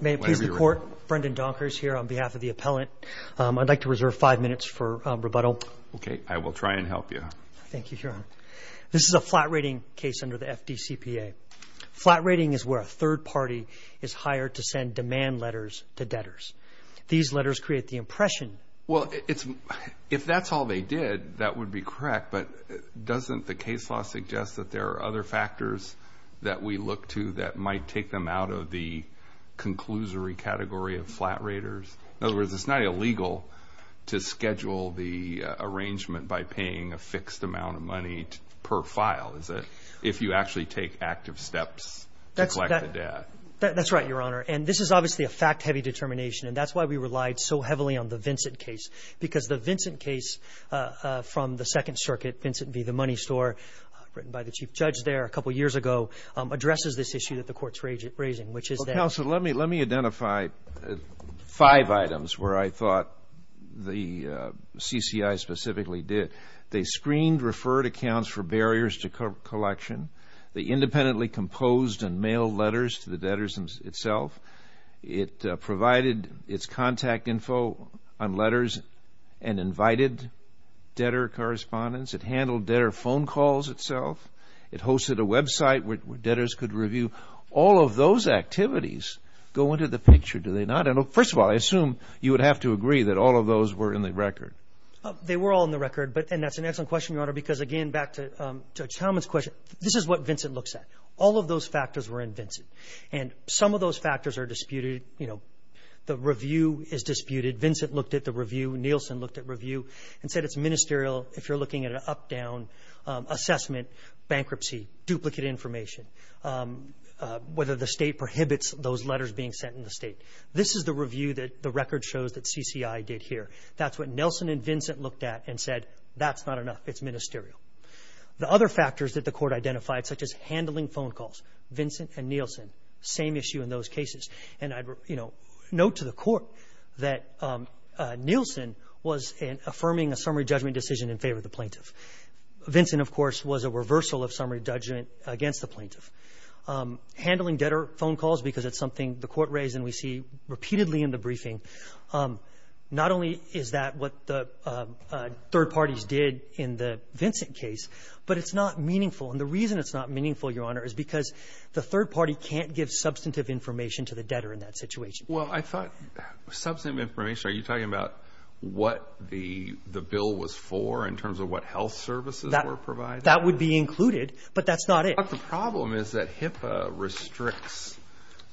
May it please the Court, Brendan Donkers here on behalf of the Appellant, I'd like to reserve five minutes for rebuttal. Okay, I will try and help you. Thank you, Your Honor. This is a flat rating case under the FDCPA. Flat rating is where a third party is hired to send demand letters to debtors. These letters create the impression... Well, if that's all they did, that would be correct, but doesn't the case law suggest that there are other factors that we look to that might take them out of the conclusory category of flat raters? In other words, it's not illegal to schedule the arrangement by paying a fixed amount of money per file, is it, if you actually take active steps to collect the debt? That's right, Your Honor. And this is obviously a fact-heavy determination, and that's why we relied so heavily on the Vincent case, because the Vincent case from the Second Circuit, Vincent v. The Money Store, written by the Chief Judge there a couple years ago, addresses this issue that the Court's raising, which is that... Counsel, let me identify five items where I thought the CCI specifically did. They screened referred accounts for barriers to collection. They independently composed and mailed letters to the debtors itself. It provided its contact info on letters and invited debtor correspondents. It handled debtor phone calls itself. It hosted a website where debtors could review. All of those activities go into the picture, do they not? And, first of all, I assume you would have to agree that all of those were in the record. They were all in the record, and that's an excellent question, Your Honor, because, again, back to Judge Talman's question, this is what Vincent looks at. All of those factors were in Vincent, and some of those factors are disputed. The review is disputed. Vincent looked at the review. Nielsen looked at review and said it's ministerial if you're looking at an up-down assessment, bankruptcy, duplicate information, whether the state prohibits those letters being sent in the state. This is the review that the record shows that CCI did here. That's what Nelson and Vincent looked at and said, that's not enough. It's ministerial. The other factors that the Court identified, such as handling phone calls, Vincent and Nielsen, same issue in those cases. And I'd, you know, note to the Court that Nielsen was affirming a summary judgment decision in favor of the plaintiff. Vincent, of course, was a reversal of summary judgment against the plaintiff. Handling debtor phone calls, because it's something the Court raised and we see repeatedly in the briefing, not only is that what the third parties did in the Vincent case, but it's not meaningful. And the reason it's not meaningful, Your Honor, is because the third party can't give substantive information to the debtor in that situation. Well, I thought substantive information, are you talking about what the bill was for in terms of what health services were provided? That would be included, but that's not it. But the problem is that HIPAA restricts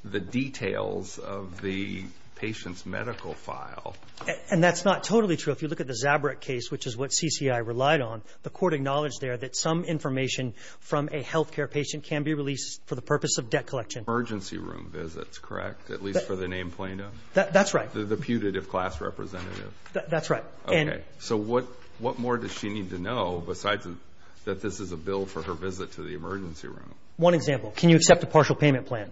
the details of the patient's medical file. And that's not totally true. If you look at the Zabrick case, which is what CCI relied on, the Court acknowledged there that some information from a health care patient can be released for the purpose of debt collection. Emergency room visits, correct, at least for the named plaintiff? That's right. The putative class representative. That's right. Okay. So what more does she need to know besides that this is a bill for her visit to the emergency room? One example. Can you accept a partial payment plan?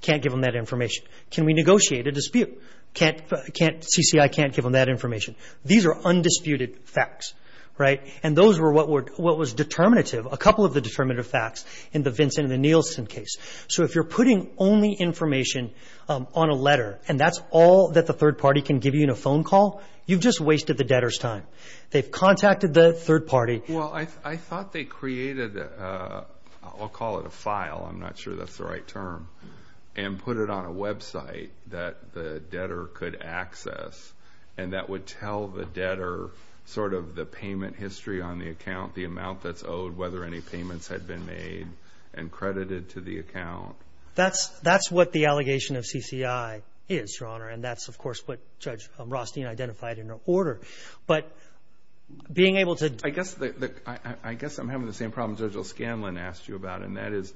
Can't give them that information. Can we negotiate a dispute? CCI can't give them that information. These are undisputed facts, right? And those were what was determinative, a couple of the determinative facts in the Vincent and the Nielsen case. So if you're putting only information on a letter and that's all that the third party can give you in a phone call, you've just wasted the debtor's time. They've contacted the third party. Well, I thought they created, I'll call it a file, I'm not sure that's the right term, and put it on a website that the debtor could access and that would tell the debtor sort of the payment history on the account, the amount that's owed, whether any payments had been made and credited to the account. That's what the allegation of CCI is, Your Honor, and that's, of course, what Judge Rothstein identified in her order. But being able to – I guess I'm having the same problem Judge O'Scanlan asked you about, and that is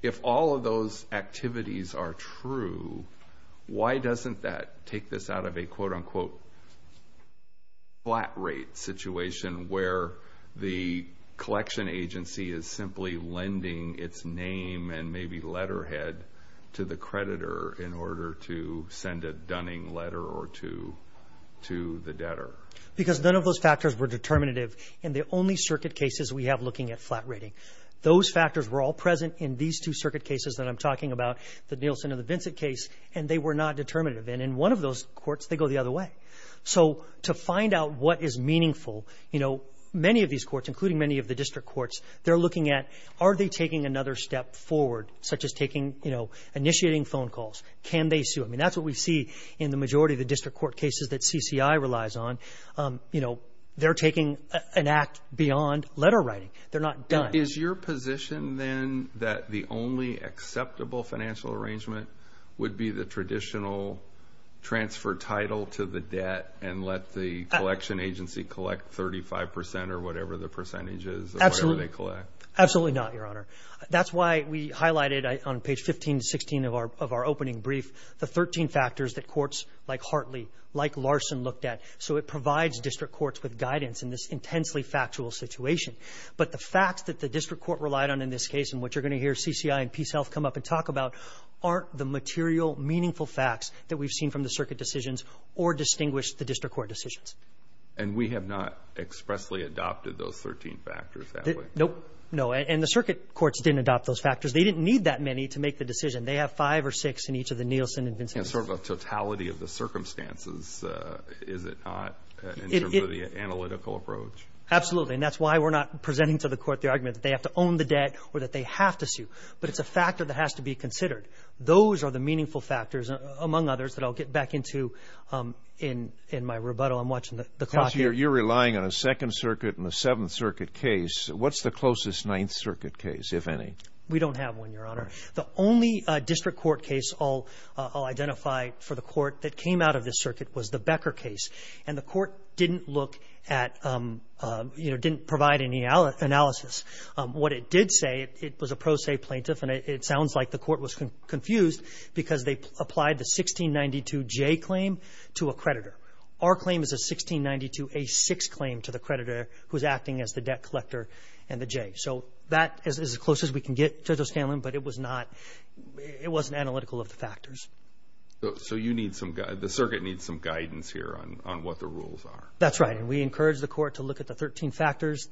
if all of those activities are true, why doesn't that take this out of a quote-unquote flat rate situation where the collection agency is simply lending its name and maybe letterhead to the creditor in order to send a dunning letter or two to the debtor? Because none of those factors were determinative in the only circuit cases we have looking at flat rating. Those factors were all present in these two circuit cases that I'm talking about, the Nielsen and the Vincent case, and they were not determinative. And in one of those courts, they go the other way. So to find out what is meaningful, many of these courts, including many of the district courts, they're looking at are they taking another step forward, such as initiating phone calls? Can they sue? I mean, that's what we see in the majority of the district court cases that CCI relies on. They're taking an act beyond letter writing. They're not done. Is your position then that the only acceptable financial arrangement would be the traditional transfer title to the debt and let the collection agency collect 35 percent or whatever the percentage is of whatever they collect? Absolutely not, Your Honor. That's why we highlighted on page 15 to 16 of our opening brief the 13 factors that courts like Hartley, like Larson looked at, so it provides district courts with guidance in this intensely factual situation. But the facts that the district court relied on in this case, and what you're going to hear CCI and PeaceHealth come up and talk about, aren't the material, meaningful facts that we've seen from the circuit decisions or distinguished the district court decisions. And we have not expressly adopted those 13 factors, have we? Nope. No, and the circuit courts didn't adopt those factors. They didn't need that many to make the decision. They have five or six in each of the Nielsen and Vincent cases. And sort of a totality of the circumstances, is it not, in terms of the analytical approach? Absolutely, and that's why we're not presenting to the court the argument that they have to own the debt or that they have to sue. But it's a factor that has to be considered. Those are the meaningful factors, among others, that I'll get back into in my rebuttal. I'm watching the clock here. You're relying on a Second Circuit and a Seventh Circuit case. What's the closest Ninth Circuit case, if any? We don't have one, Your Honor. The only district court case I'll identify for the court that came out of this circuit was the Becker case. And the court didn't look at, you know, didn't provide any analysis. What it did say, it was a pro se plaintiff, and it sounds like the court was confused because they applied the 1692J claim to a creditor. Our claim is a 1692A6 claim to the creditor who's acting as the debt collector and the J. So that is as close as we can get to those families, but it wasn't analytical of the factors. So the circuit needs some guidance here on what the rules are. That's right, and we encourage the court to look at the 13 factors.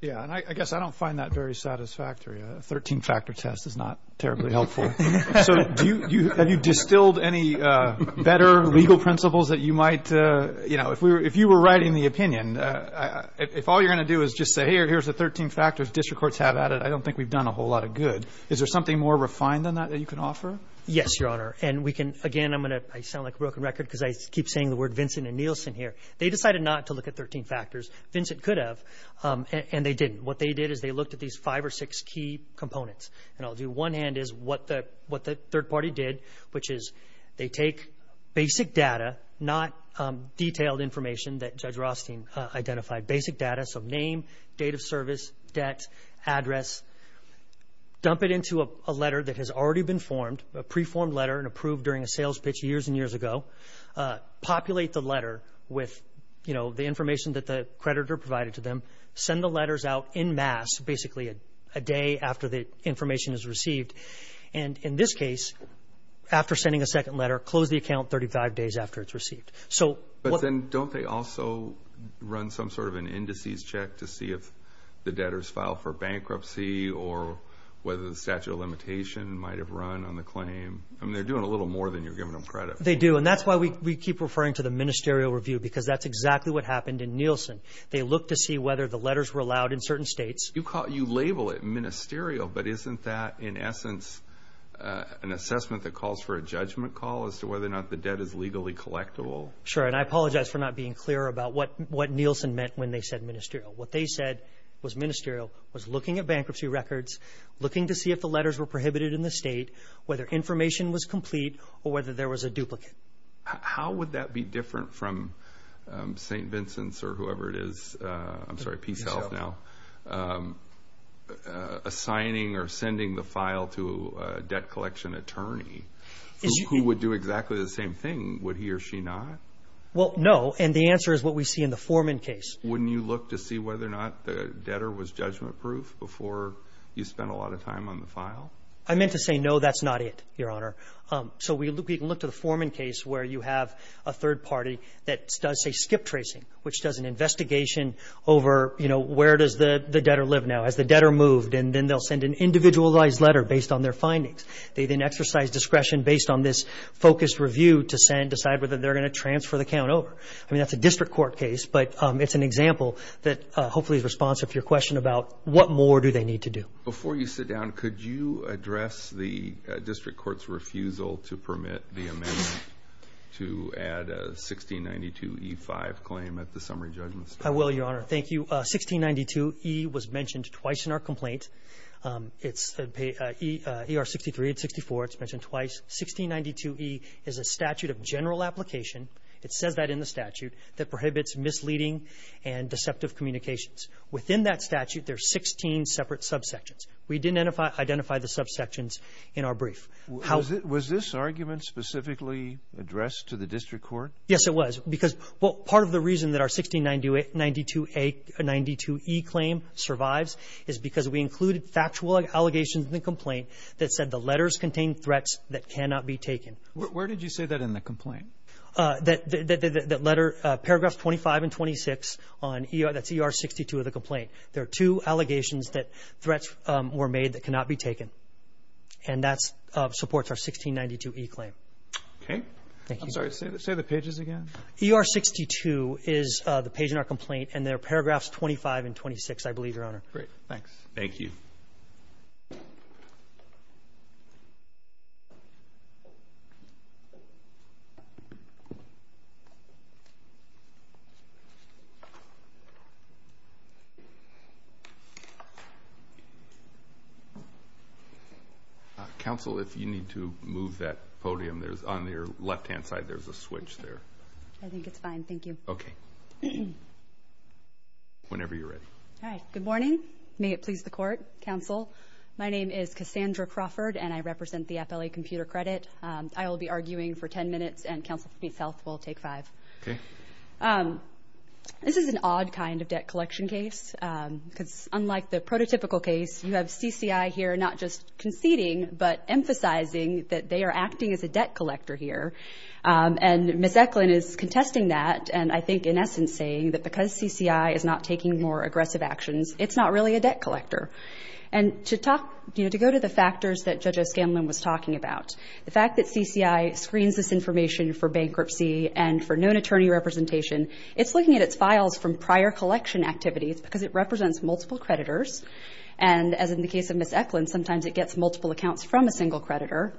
Yeah, and I guess I don't find that very satisfactory. A 13-factor test is not terribly helpful. So have you distilled any better legal principles that you might, you know, if you were writing the opinion, if all you're going to do is just say, hey, here's the 13 factors district courts have added, I don't think we've done a whole lot of good. Is there something more refined than that that you can offer? Yes, Your Honor, and we can, again, I'm going to sound like a broken record because I keep saying the word Vincent and Nielsen here. They decided not to look at 13 factors. Vincent could have, and they didn't. What they did is they looked at these five or six key components, and I'll do one hand is what the third party did, which is they take basic data, not detailed information that Judge Rothstein identified, basic data, so name, date of service, debt, address, dump it into a letter that has already been formed, a preformed letter and approved during a sales pitch years and years ago, populate the letter with, you know, the information that the creditor provided to them, send the letters out en masse, basically a day after the information is received, and in this case, after sending a second letter, close the account 35 days after it's received. But then don't they also run some sort of an indices check to see if the debtors filed for bankruptcy or whether the statute of limitation might have run on the claim? I mean, they're doing a little more than you're giving them credit for. They do, and that's why we keep referring to the ministerial review because that's exactly what happened in Nielsen. They looked to see whether the letters were allowed in certain states. You label it ministerial, but isn't that, in essence, an assessment that calls for a judgment call as to whether or not the debt is legally collectible? Sure, and I apologize for not being clear about what Nielsen meant when they said ministerial. What they said was ministerial was looking at bankruptcy records, looking to see if the letters were prohibited in the state, whether information was complete, or whether there was a duplicate. How would that be different from St. Vincent's or whoever it is, I'm sorry, PeaceHealth now, assigning or sending the file to a debt collection attorney who would do exactly the same thing? Would he or she not? Well, no, and the answer is what we see in the Foreman case. Wouldn't you look to see whether or not the debtor was judgment-proof before you spent a lot of time on the file? I meant to say, no, that's not it, Your Honor. So we can look to the Foreman case where you have a third party that does, say, where does the debtor live now? Has the debtor moved? And then they'll send an individualized letter based on their findings. They then exercise discretion based on this focused review to decide whether they're going to transfer the count over. I mean, that's a district court case, but it's an example that hopefully is responsive to your question about what more do they need to do. Before you sit down, could you address the district court's refusal to permit the amendment to add a 1692E5 claim at the summary judgment stage? I will, Your Honor. Thank you. 1692E was mentioned twice in our complaint. It's ER 63 and 64. It's mentioned twice. 1692E is a statute of general application. It says that in the statute that prohibits misleading and deceptive communications. Within that statute, there are 16 separate subsections. We didn't identify the subsections in our brief. Was this argument specifically addressed to the district court? Yes, it was. Part of the reason that our 1692E claim survives is because we included factual allegations in the complaint that said the letters contained threats that cannot be taken. Where did you say that in the complaint? Paragraphs 25 and 26, that's ER 62 of the complaint. There are two allegations that threats were made that cannot be taken, and that supports our 1692E claim. Okay. Thank you. I'm sorry. Say the pages again. ER 62 is the page in our complaint, and there are paragraphs 25 and 26, I believe, Your Honor. Great. Thanks. Thank you. Counsel, if you need to move that podium, there's on your left-hand side, there's a switch there. I think it's fine. Thank you. Okay. Whenever you're ready. All right. Good morning. May it please the Court, Counsel. My name is Cassandra Crawford, and I represent the FLA Computer Credit. I will be arguing for 10 minutes, and Counsel for myself will take five. Okay. This is an odd kind of debt collection case, because unlike the prototypical case, you have CCI here not just conceding but emphasizing that they are acting as a debt collector here. And Ms. Eklund is contesting that, and I think, in essence, saying that because CCI is not taking more aggressive actions, it's not really a debt collector. And to go to the factors that Judge Eskandlon was talking about, the fact that CCI screens this information for bankruptcy and for known attorney representation, it's looking at its files from prior collection activities because it represents multiple creditors, and as in the case of Ms. Eklund, sometimes it gets multiple accounts from a single creditor,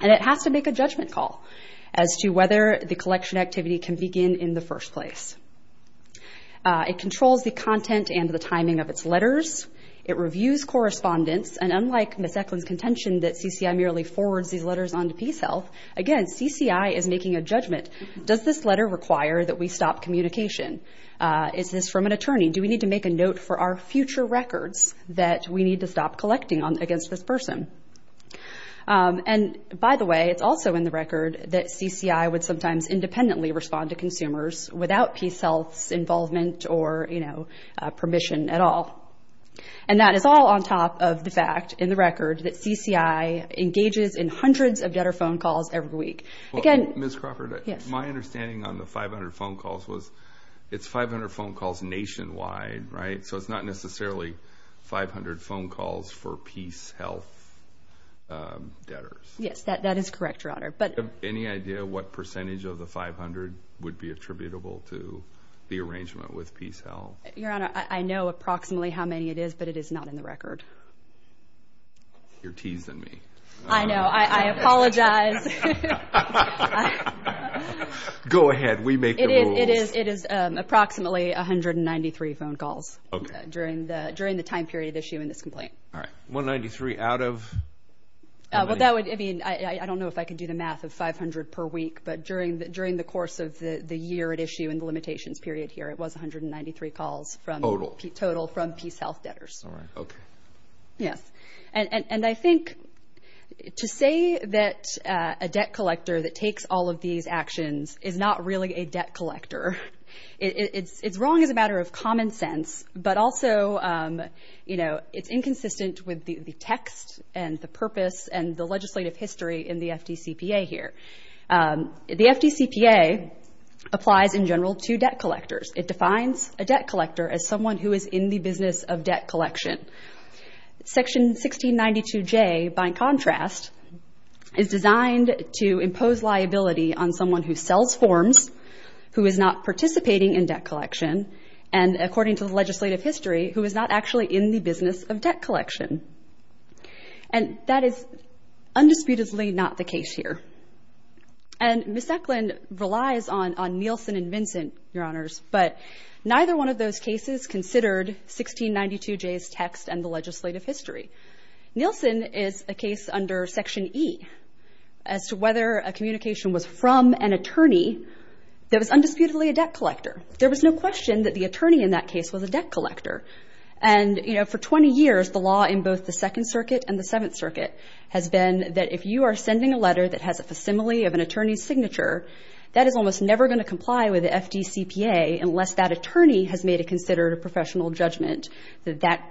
and it has to make a judgment call as to whether the collection activity can begin in the first place. It controls the content and the timing of its letters. It reviews correspondence. And unlike Ms. Eklund's contention that CCI merely forwards these letters on to PeaceHealth, again, CCI is making a judgment. Does this letter require that we stop communication? Is this from an attorney? Do we need to make a note for our future records that we need to stop collecting against this person? And, by the way, it's also in the record that CCI would sometimes independently respond to consumers without PeaceHealth's involvement or, you know, permission at all. And that is all on top of the fact in the record that CCI engages in hundreds of debtor phone calls every week. Again, Ms. Crawford, my understanding on the 500 phone calls was it's 500 phone calls nationwide, right? So it's not necessarily 500 phone calls for PeaceHealth debtors. Yes, that is correct, Your Honor. Do you have any idea what percentage of the 500 would be attributable to the arrangement with PeaceHealth? Your Honor, I know approximately how many it is, but it is not in the record. You're teasing me. I know. I apologize. Go ahead. We make the rules. It is approximately 193 phone calls during the time period issued in this complaint. All right. 193 out of how many? Well, that would, I mean, I don't know if I can do the math of 500 per week, but during the course of the year at issue in the limitations period here, it was 193 calls. Total. Total from PeaceHealth debtors. All right. Okay. Yes. And I think to say that a debt collector that takes all of these actions is not really a debt collector, it's wrong as a matter of common sense, but also, you know, it's inconsistent with the text and the purpose and the legislative history in the FDCPA here. The FDCPA applies in general to debt collectors. It defines a debt collector as someone who is in the business of debt collection. Section 1692J, by contrast, is designed to impose liability on someone who sells forms, who is not participating in debt collection, and according to the legislative history, who is not actually in the business of debt collection. And that is undisputedly not the case here. And Ms. Eklund relies on Nielsen and Vincent, Your Honors, but neither one of those cases considered 1692J's text and the legislative history. Nielsen is a case under Section E as to whether a communication was from an attorney that was undisputedly a debt collector. There was no question that the attorney in that case was a debt collector. And, you know, for 20 years, the law in both the Second Circuit and the Seventh Circuit has been that if you are sending a letter that has a facsimile of an attorney's signature, that is almost never going to comply with the FDCPA unless that attorney has made it considered a professional judgment that that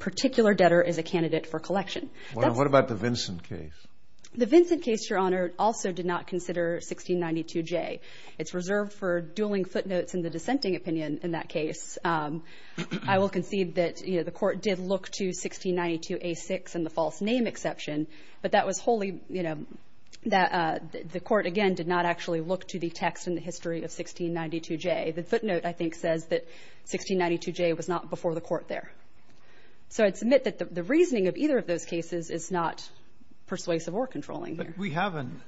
particular debtor is a candidate for collection. What about the Vincent case? The Vincent case, Your Honor, also did not consider 1692J. It's reserved for dueling footnotes in the dissenting opinion in that case. I will concede that, you know, the Court did look to 1692A6 and the false name exception, but that was wholly, you know, that the Court, again, did not actually look to the text and the history of 1692J. The footnote, I think, says that 1692J was not before the Court there. So I'd submit that the reasoning of either of those cases is not persuasive or controlling here. But we have an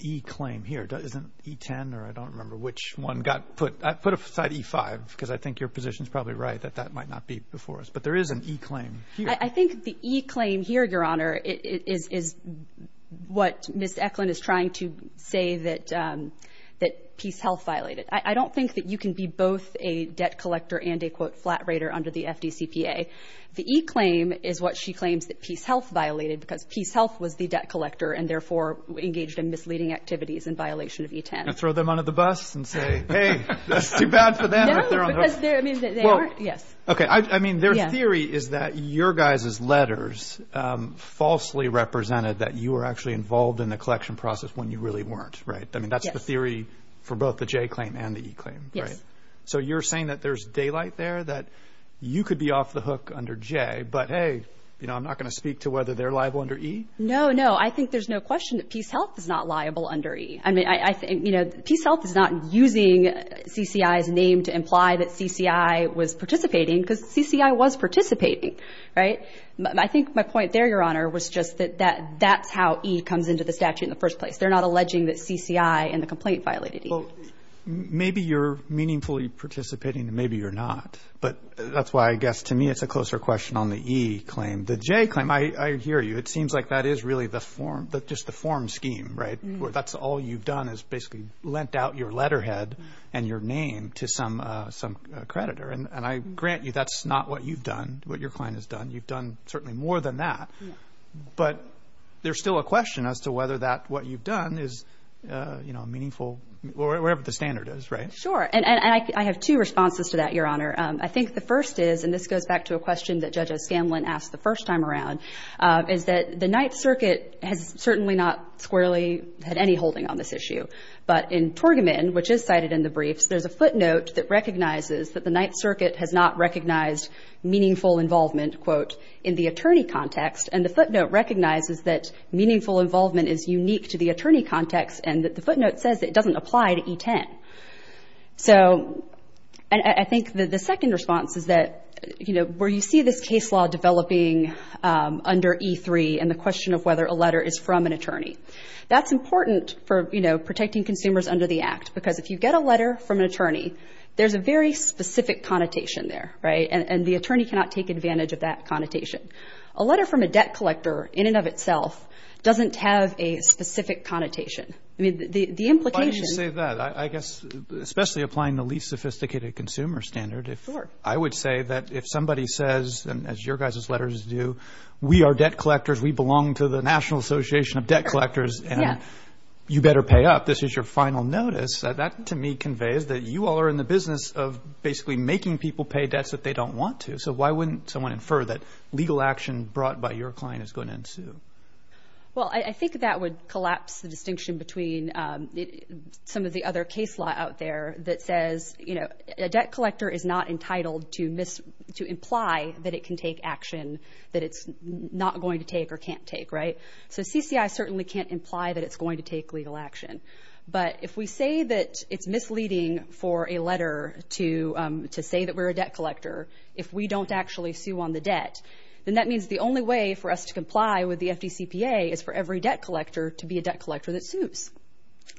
E claim here. Isn't it E10, or I don't remember which one got put? Put aside E5, because I think your position is probably right that that might not be before us. But there is an E claim here. I think the E claim here, Your Honor, is what Ms. Eklund is trying to say that PeaceHealth violated. I don't think that you can be both a debt collector and a, quote, flat rater under the FDCPA. The E claim is what she claims that PeaceHealth violated because PeaceHealth was the debt collector and, therefore, engaged in misleading activities in violation of E10. And throw them under the bus and say, hey, that's too bad for them. No, because they are, yes. Okay, I mean, their theory is that your guys' letters falsely represented that you were actually involved in the collection process when you really weren't, right? I mean, that's the theory for both the J claim and the E claim, right? Yes. So you're saying that there's daylight there, that you could be off the hook under J, but, hey, you know, I'm not going to speak to whether they're liable under E? No, no. I think there's no question that PeaceHealth is not liable under E. I mean, I think, you know, PeaceHealth is not using CCI's name to imply that CCI was participating because CCI was participating, right? I think my point there, Your Honor, was just that that's how E comes into the statute in the first place. They're not alleging that CCI in the complaint violated E. Well, maybe you're meaningfully participating and maybe you're not. But that's why I guess to me it's a closer question on the E claim. The J claim, I hear you. It seems like that is really the form, just the form scheme, right? Where that's all you've done is basically lent out your letterhead and your name to some creditor. And I grant you that's not what you've done, what your client has done. You've done certainly more than that. But there's still a question as to whether that what you've done is, you know, meaningful, or whatever the standard is, right? Sure. And I have two responses to that, Your Honor. I think the first is, and this goes back to a question that Judge O'Scanlan asked the first time around, is that the Ninth Circuit has certainly not squarely had any holding on this issue. But in Torgerman, which is cited in the briefs, there's a footnote that recognizes that the Ninth Circuit has not recognized meaningful involvement, quote, in the attorney context. And the footnote recognizes that meaningful involvement is unique to the attorney context and that the footnote says it doesn't apply to E10. So I think that the second response is that, you know, where you see this case law developing under E3 and the question of whether a letter is from an attorney, that's important for, you know, protecting consumers under the Act. Because if you get a letter from an attorney, there's a very specific connotation there, right? And the attorney cannot take advantage of that connotation. A letter from a debt collector in and of itself doesn't have a specific connotation. I mean, the implication of that. I guess especially applying the least sophisticated consumer standard, I would say that if somebody says, as your guys' letters do, we are debt collectors, we belong to the National Association of Debt Collectors, and you better pay up, this is your final notice, that to me conveys that you all are in the business of basically making people pay debts that they don't want to. So why wouldn't someone infer that legal action brought by your client is going to ensue? Well, I think that would collapse the distinction between some of the other case law out there that says, you know, a debt collector is not entitled to imply that it can take action that it's not going to take or can't take, right? So CCI certainly can't imply that it's going to take legal action. But if we say that it's misleading for a letter to say that we're a debt collector, if we don't actually sue on the debt, then that means the only way for us to comply with the FDCPA is for every debt collector to be a debt collector that sues.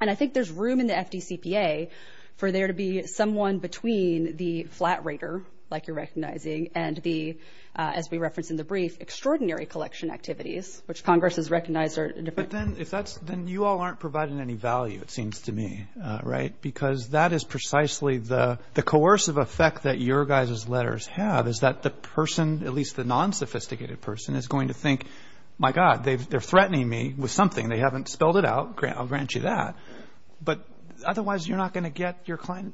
And I think there's room in the FDCPA for there to be someone between the flat rater, like you're recognizing, and the, as we referenced in the brief, extraordinary collection activities, which Congress has recognized are different. But then if that's – then you all aren't providing any value, it seems to me, right? Because that is precisely the coercive effect that your guys' letters have, is that the person, at least the non-sophisticated person, is going to think, my God, they're threatening me with something. They haven't spelled it out. I'll grant you that. But otherwise, you're not going to get your client,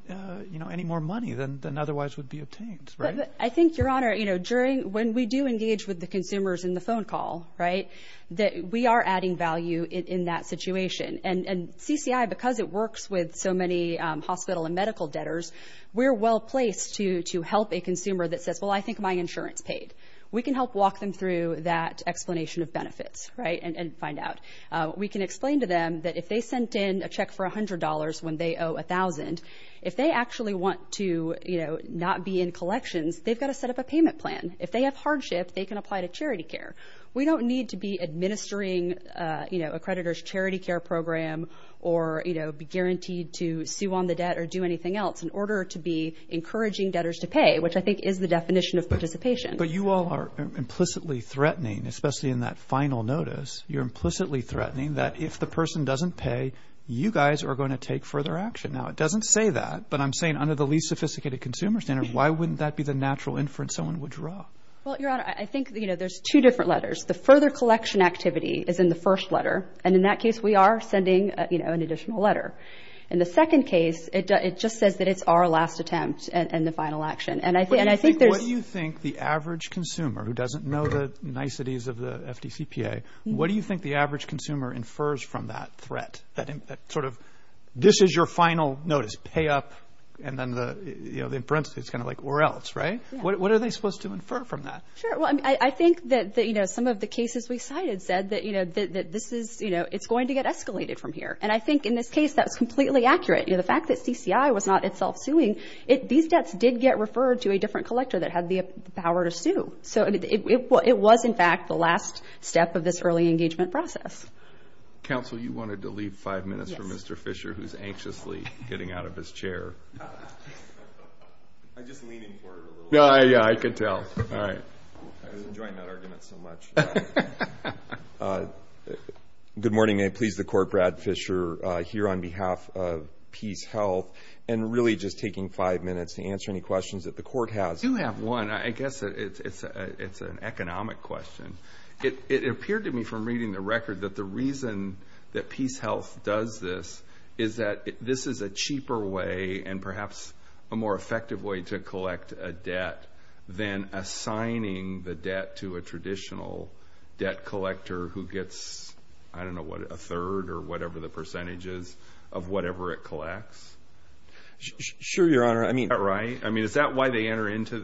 you know, any more money than otherwise would be obtained, right? But I think, Your Honor, you know, during – when we do engage with the consumers in the phone call, right, that we are adding value in that situation. And CCI, because it works with so many hospital and medical debtors, we're well-placed to help a consumer that says, well, I think my insurance paid. We can help walk them through that explanation of benefits, right, and find out. We can explain to them that if they sent in a check for $100 when they owe $1,000, if they actually want to, you know, not be in collections, they've got to set up a payment plan. If they have hardship, they can apply to charity care. We don't need to be administering, you know, a creditor's charity care program or, you know, be guaranteed to sue on the debt or do anything else in order to be encouraging debtors to pay, which I think is the definition of participation. But you all are implicitly threatening, especially in that final notice, you're implicitly threatening that if the person doesn't pay, you guys are going to take further action. Now, it doesn't say that, but I'm saying under the least sophisticated consumer standard, why wouldn't that be the natural inference someone would draw? Well, Your Honor, I think, you know, there's two different letters. The further collection activity is in the first letter. And in that case, we are sending, you know, an additional letter. In the second case, it just says that it's our last attempt and the final action. And I think there's... What do you think the average consumer who doesn't know the niceties of the FDCPA, what do you think the average consumer infers from that threat, that sort of this is your final notice, pay up, and then the, you know, the inference is kind of like or else, right? What are they supposed to infer from that? Sure. Well, I think that, you know, some of the cases we cited said that, you know, that this is, you know, it's going to get escalated from here. And I think in this case, that's completely accurate. You know, the fact that CCI was not itself suing, these debts did get referred to a different collector that had the power to sue. So it was, in fact, the last step of this early engagement process. Counsel, you wanted to leave five minutes for Mr. Fisher, who's anxiously getting out of his chair. I'm just leaning forward a little bit. Yeah, I could tell. All right. I was enjoying that argument so much. Good morning. May it please the Court, Brad Fisher here on behalf of PeaceHealth and really just taking five minutes to answer any questions that the Court has. I do have one. I guess it's an economic question. It appeared to me from reading the record that the reason that PeaceHealth does this is that this is a cheaper way and perhaps a more effective way to collect a debt than assigning the debt to a traditional debt collector who gets, I don't know what, a third or whatever the percentage is of whatever it collects. Sure, Your Honor. Right? I mean, is that why they enter into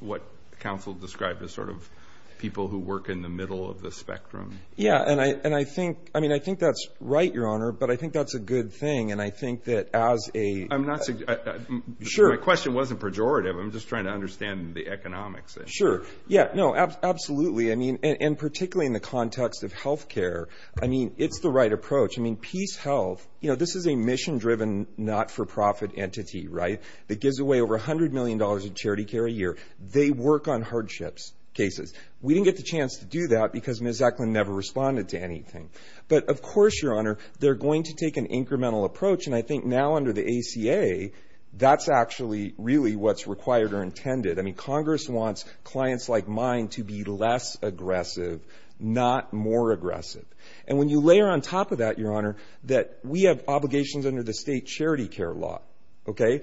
what counsel described as sort of people who work in the middle of the spectrum? Yeah, and I think that's right, Your Honor, but I think that's a good thing, and I think that as a— I'm not—my question wasn't pejorative. I'm just trying to understand the economics. Sure. Yeah, no, absolutely. I mean, and particularly in the context of health care, I mean, it's the right approach. I mean, PeaceHealth, you know, this is a mission-driven, not-for-profit entity, right, that gives away over $100 million in charity care a year. They work on hardships cases. We didn't get the chance to do that because Ms. Eklund never responded to anything. But of course, Your Honor, they're going to take an incremental approach, and I think now under the ACA, that's actually really what's required or intended. I mean, Congress wants clients like mine to be less aggressive, not more aggressive. And when you layer on top of that, Your Honor, that we have obligations under the state charity care law, okay,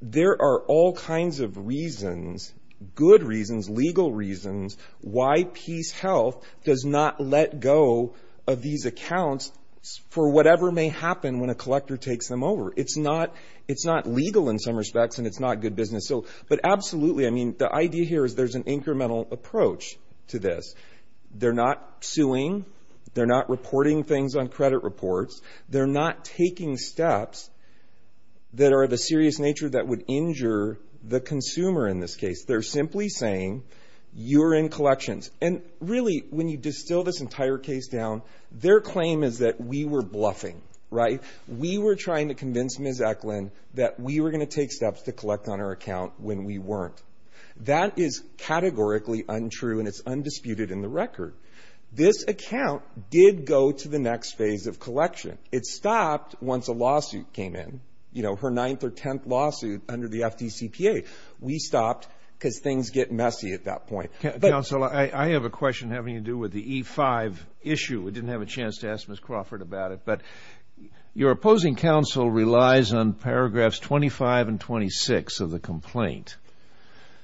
there are all kinds of reasons, good reasons, legal reasons, why PeaceHealth does not let go of these accounts for whatever may happen when a collector takes them over. It's not legal in some respects, and it's not good business. But absolutely, I mean, the idea here is there's an incremental approach to this. They're not suing. They're not reporting things on credit reports. They're not taking steps that are of a serious nature that would injure the consumer in this case. They're simply saying you're in collections. And really, when you distill this entire case down, their claim is that we were bluffing, right? We were trying to convince Ms. Eklund that we were going to take steps to collect on her account when we weren't. That is categorically untrue, and it's undisputed in the record. This account did go to the next phase of collection. It stopped once a lawsuit came in, you know, her ninth or tenth lawsuit under the FDCPA. We stopped because things get messy at that point. Counsel, I have a question having to do with the E-5 issue. I didn't have a chance to ask Ms. Crawford about it, but your opposing counsel relies on paragraphs 25 and 26 of the complaint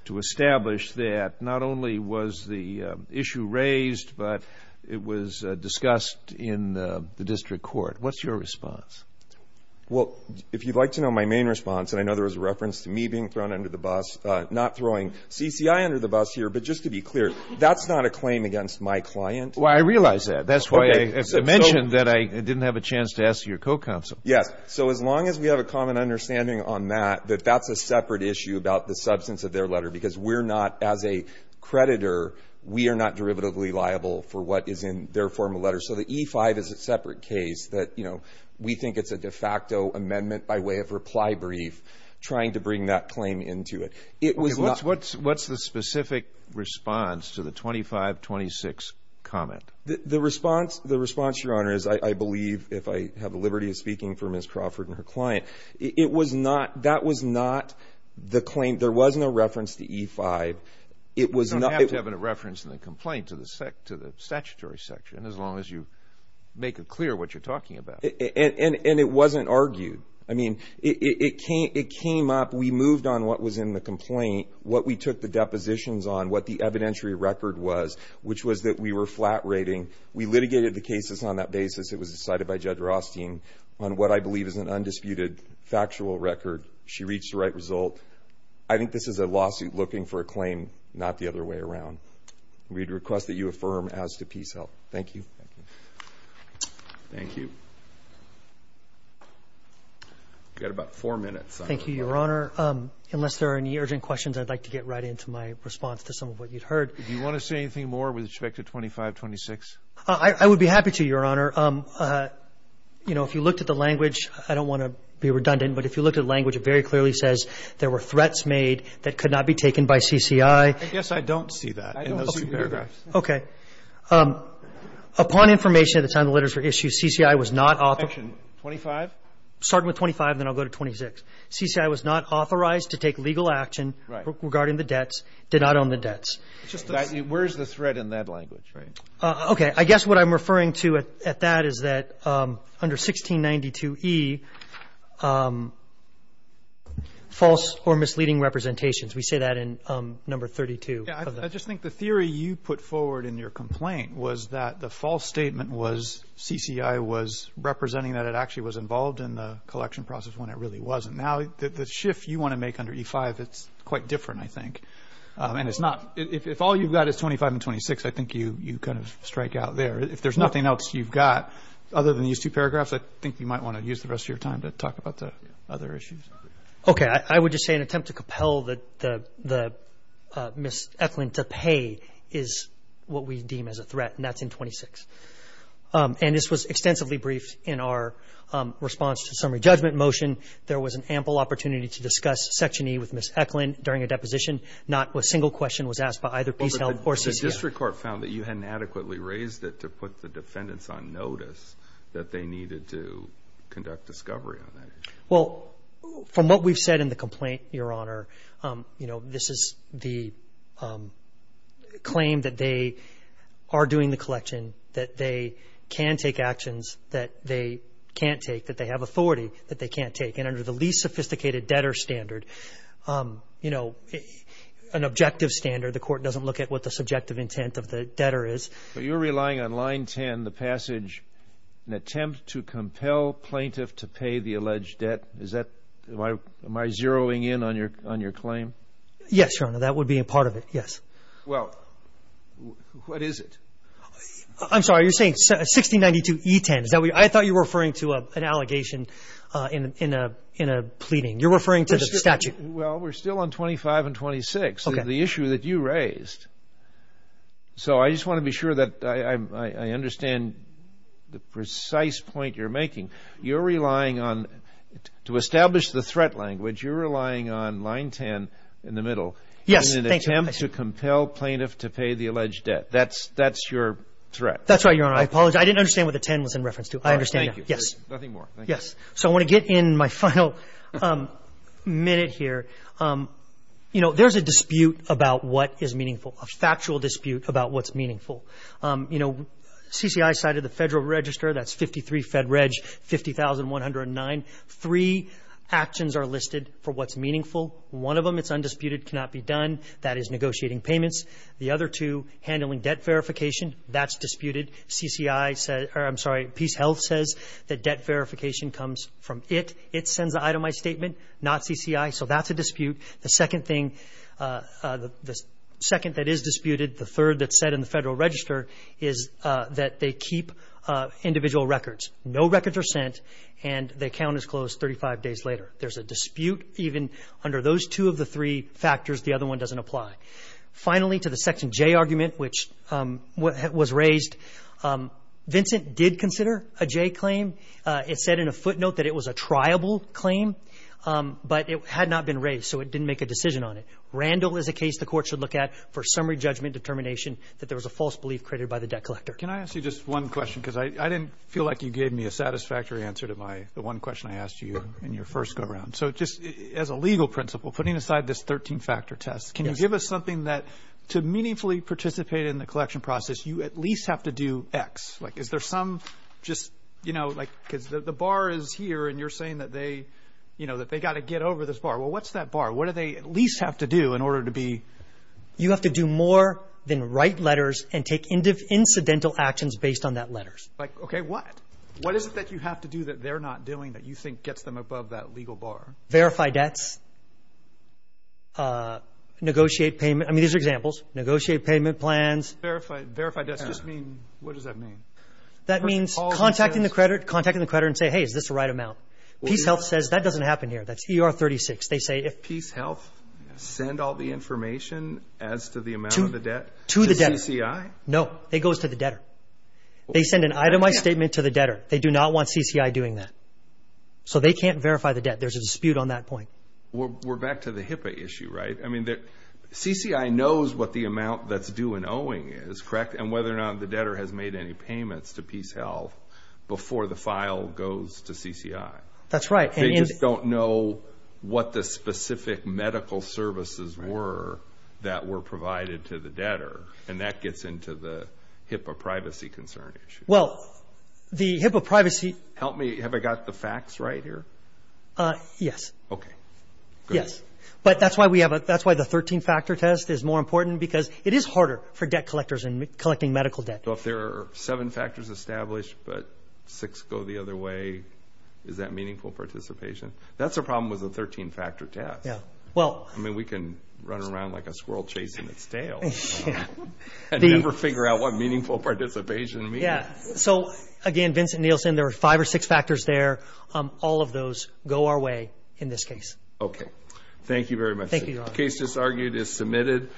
to establish that not only was the issue raised, but it was discussed in the district court. What's your response? Well, if you'd like to know my main response, and I know there was a reference to me being thrown under the bus, not throwing CCI under the bus here, but just to be clear, that's not a claim against my client. Well, I realize that. That's why I mentioned that I didn't have a chance to ask your co-counsel. Yes. So as long as we have a common understanding on that, that that's a separate issue about the substance of their letter, because we're not, as a creditor, we are not derivatively liable for what is in their formal letter. So the E-5 is a separate case that we think it's a de facto amendment by way of reply brief, trying to bring that claim into it. What's the specific response to the 25-26 comment? The response, Your Honor, is I believe, if I have the liberty of speaking for Ms. Crawford and her client, that was not the claim. There was no reference to E-5. You don't have to have a reference in the complaint to the statutory section, as long as you make it clear what you're talking about. And it wasn't argued. I mean, it came up. We moved on what was in the complaint, what we took the depositions on, what the evidentiary record was, which was that we were flat rating. We litigated the cases on that basis. It was decided by Judge Rothstein on what I believe is an undisputed factual record. She reached the right result. I think this is a lawsuit looking for a claim not the other way around. We'd request that you affirm as to PSEL. Thank you. Thank you. We've got about four minutes. Thank you, Your Honor. Unless there are any urgent questions, I'd like to get right into my response to some of what you'd heard. Do you want to say anything more with respect to 25-26? I would be happy to, Your Honor. You know, if you looked at the language, I don't want to be redundant, but if you looked at the language, it very clearly says there were threats made that could not be taken by CCI. I guess I don't see that in those two paragraphs. Okay. Upon information at the time the letters were issued, CCI was not authorized. 25? Starting with 25, then I'll go to 26. CCI was not authorized to take legal action regarding the debts, did not own the debts. Where's the threat in that language, right? Okay. I guess what I'm referring to at that is that under 1692E, false or misleading representations. We say that in number 32. Yeah, I just think the theory you put forward in your complaint was that the false statement was CCI was representing that it actually was involved in the collection process when it really wasn't. Now, the shift you want to make under E-5, it's quite different, I think. If all you've got is 25 and 26, I think you kind of strike out there. If there's nothing else you've got other than these two paragraphs, I think you might want to use the rest of your time to talk about the other issues. Okay. I would just say an attempt to compel Ms. Eklund to pay is what we deem as a threat, and that's in 26. And this was extensively briefed in our response to summary judgment motion. There was an ample opportunity to discuss Section E with Ms. Eklund during a deposition. Not a single question was asked by either Peace Health or CCI. But the district court found that you hadn't adequately raised it to put the defendants on notice that they needed to conduct discovery on that issue. Well, from what we've said in the complaint, Your Honor, this is the claim that they are doing the collection, that they can take actions that they can't take, that they have authority that they can't take. And under the least sophisticated debtor standard, you know, an objective standard, the court doesn't look at what the subjective intent of the debtor is. But you're relying on line 10, the passage, an attempt to compel plaintiff to pay the alleged debt. Is that why am I zeroing in on your claim? Yes, Your Honor. That would be a part of it, yes. Well, what is it? I'm sorry. You're saying 1692E10. I thought you were referring to an allegation in a pleading. You're referring to the statute. Well, we're still on 25 and 26, the issue that you raised. So I just want to be sure that I understand the precise point you're making. You're relying on, to establish the threat language, you're relying on line 10 in the middle. Yes. An attempt to compel plaintiff to pay the alleged debt. That's your threat. That's right, Your Honor. I apologize. I didn't understand what the 10 was in reference to. I understand now. Thank you. Yes. Nothing more. Thank you. Yes. So I want to get in my final minute here. You know, there's a dispute about what is meaningful, a factual dispute about what's meaningful. You know, CCI cited the Federal Register, that's 53 Fed Reg, 50,109. Three actions are listed for what's meaningful. One of them, it's undisputed, cannot be done. That is negotiating payments. The other two, handling debt verification. That's disputed. CCI said, or I'm sorry, Peace Health says that debt verification comes from it. It sends the itemized statement, not CCI. So that's a dispute. The second thing, the second that is disputed, the third that's said in the Federal Register, is that they keep individual records. No records are sent, and they count as closed 35 days later. There's a dispute even under those two of the three factors. The other one doesn't apply. Finally, to the Section J argument, which was raised, Vincent did consider a J claim. It said in a footnote that it was a triable claim, but it had not been raised, so it didn't make a decision on it. Randall is a case the court should look at for summary judgment determination that there was a false belief created by the debt collector. Can I ask you just one question? Because I didn't feel like you gave me a satisfactory answer to the one question I asked you in your first go-around. So just as a legal principle, putting aside this 13-factor test, can you give us something that, to meaningfully participate in the collection process, you at least have to do X? Like, is there some just, you know, like, because the bar is here, and you're saying that they, you know, that they've got to get over this bar. Well, what's that bar? What do they at least have to do in order to be? You have to do more than write letters and take incidental actions based on that letters. Like, okay, what? What is it that you have to do that they're not doing that you think gets them above that legal bar? Verify debts. Negotiate payment. I mean, these are examples. Negotiate payment plans. Verify debts. Just mean, what does that mean? That means contacting the creditor and say, hey, is this the right amount? PeaceHealth says that doesn't happen here. That's ER 36. They say if. PeaceHealth send all the information as to the amount of the debt? To the debtor. To the CCI? No. It goes to the debtor. They send an itemized statement to the debtor. They do not want CCI doing that. So they can't verify the debt. There's a dispute on that point. We're back to the HIPAA issue, right? I mean, CCI knows what the amount that's due in owing is, correct, and whether or not the debtor has made any payments to PeaceHealth before the file goes to CCI. That's right. They just don't know what the specific medical services were that were provided to the debtor, and that gets into the HIPAA privacy concern issue. Well, the HIPAA privacy. Help me. Have I got the facts right here? Yes. Okay. Good. Yes. But that's why the 13-factor test is more important because it is harder for debt collectors in collecting medical debt. So if there are seven factors established but six go the other way, is that meaningful participation? That's the problem with the 13-factor test. Yeah. Well. I mean, we can run around like a squirrel chasing its tail. Yeah. And never figure out what meaningful participation means. Yeah. So, again, Vincent Nielsen, there are five or six factors there. All of those go our way in this case. Okay. Thank you very much. Thank you, Your Honor. The case just argued is submitted.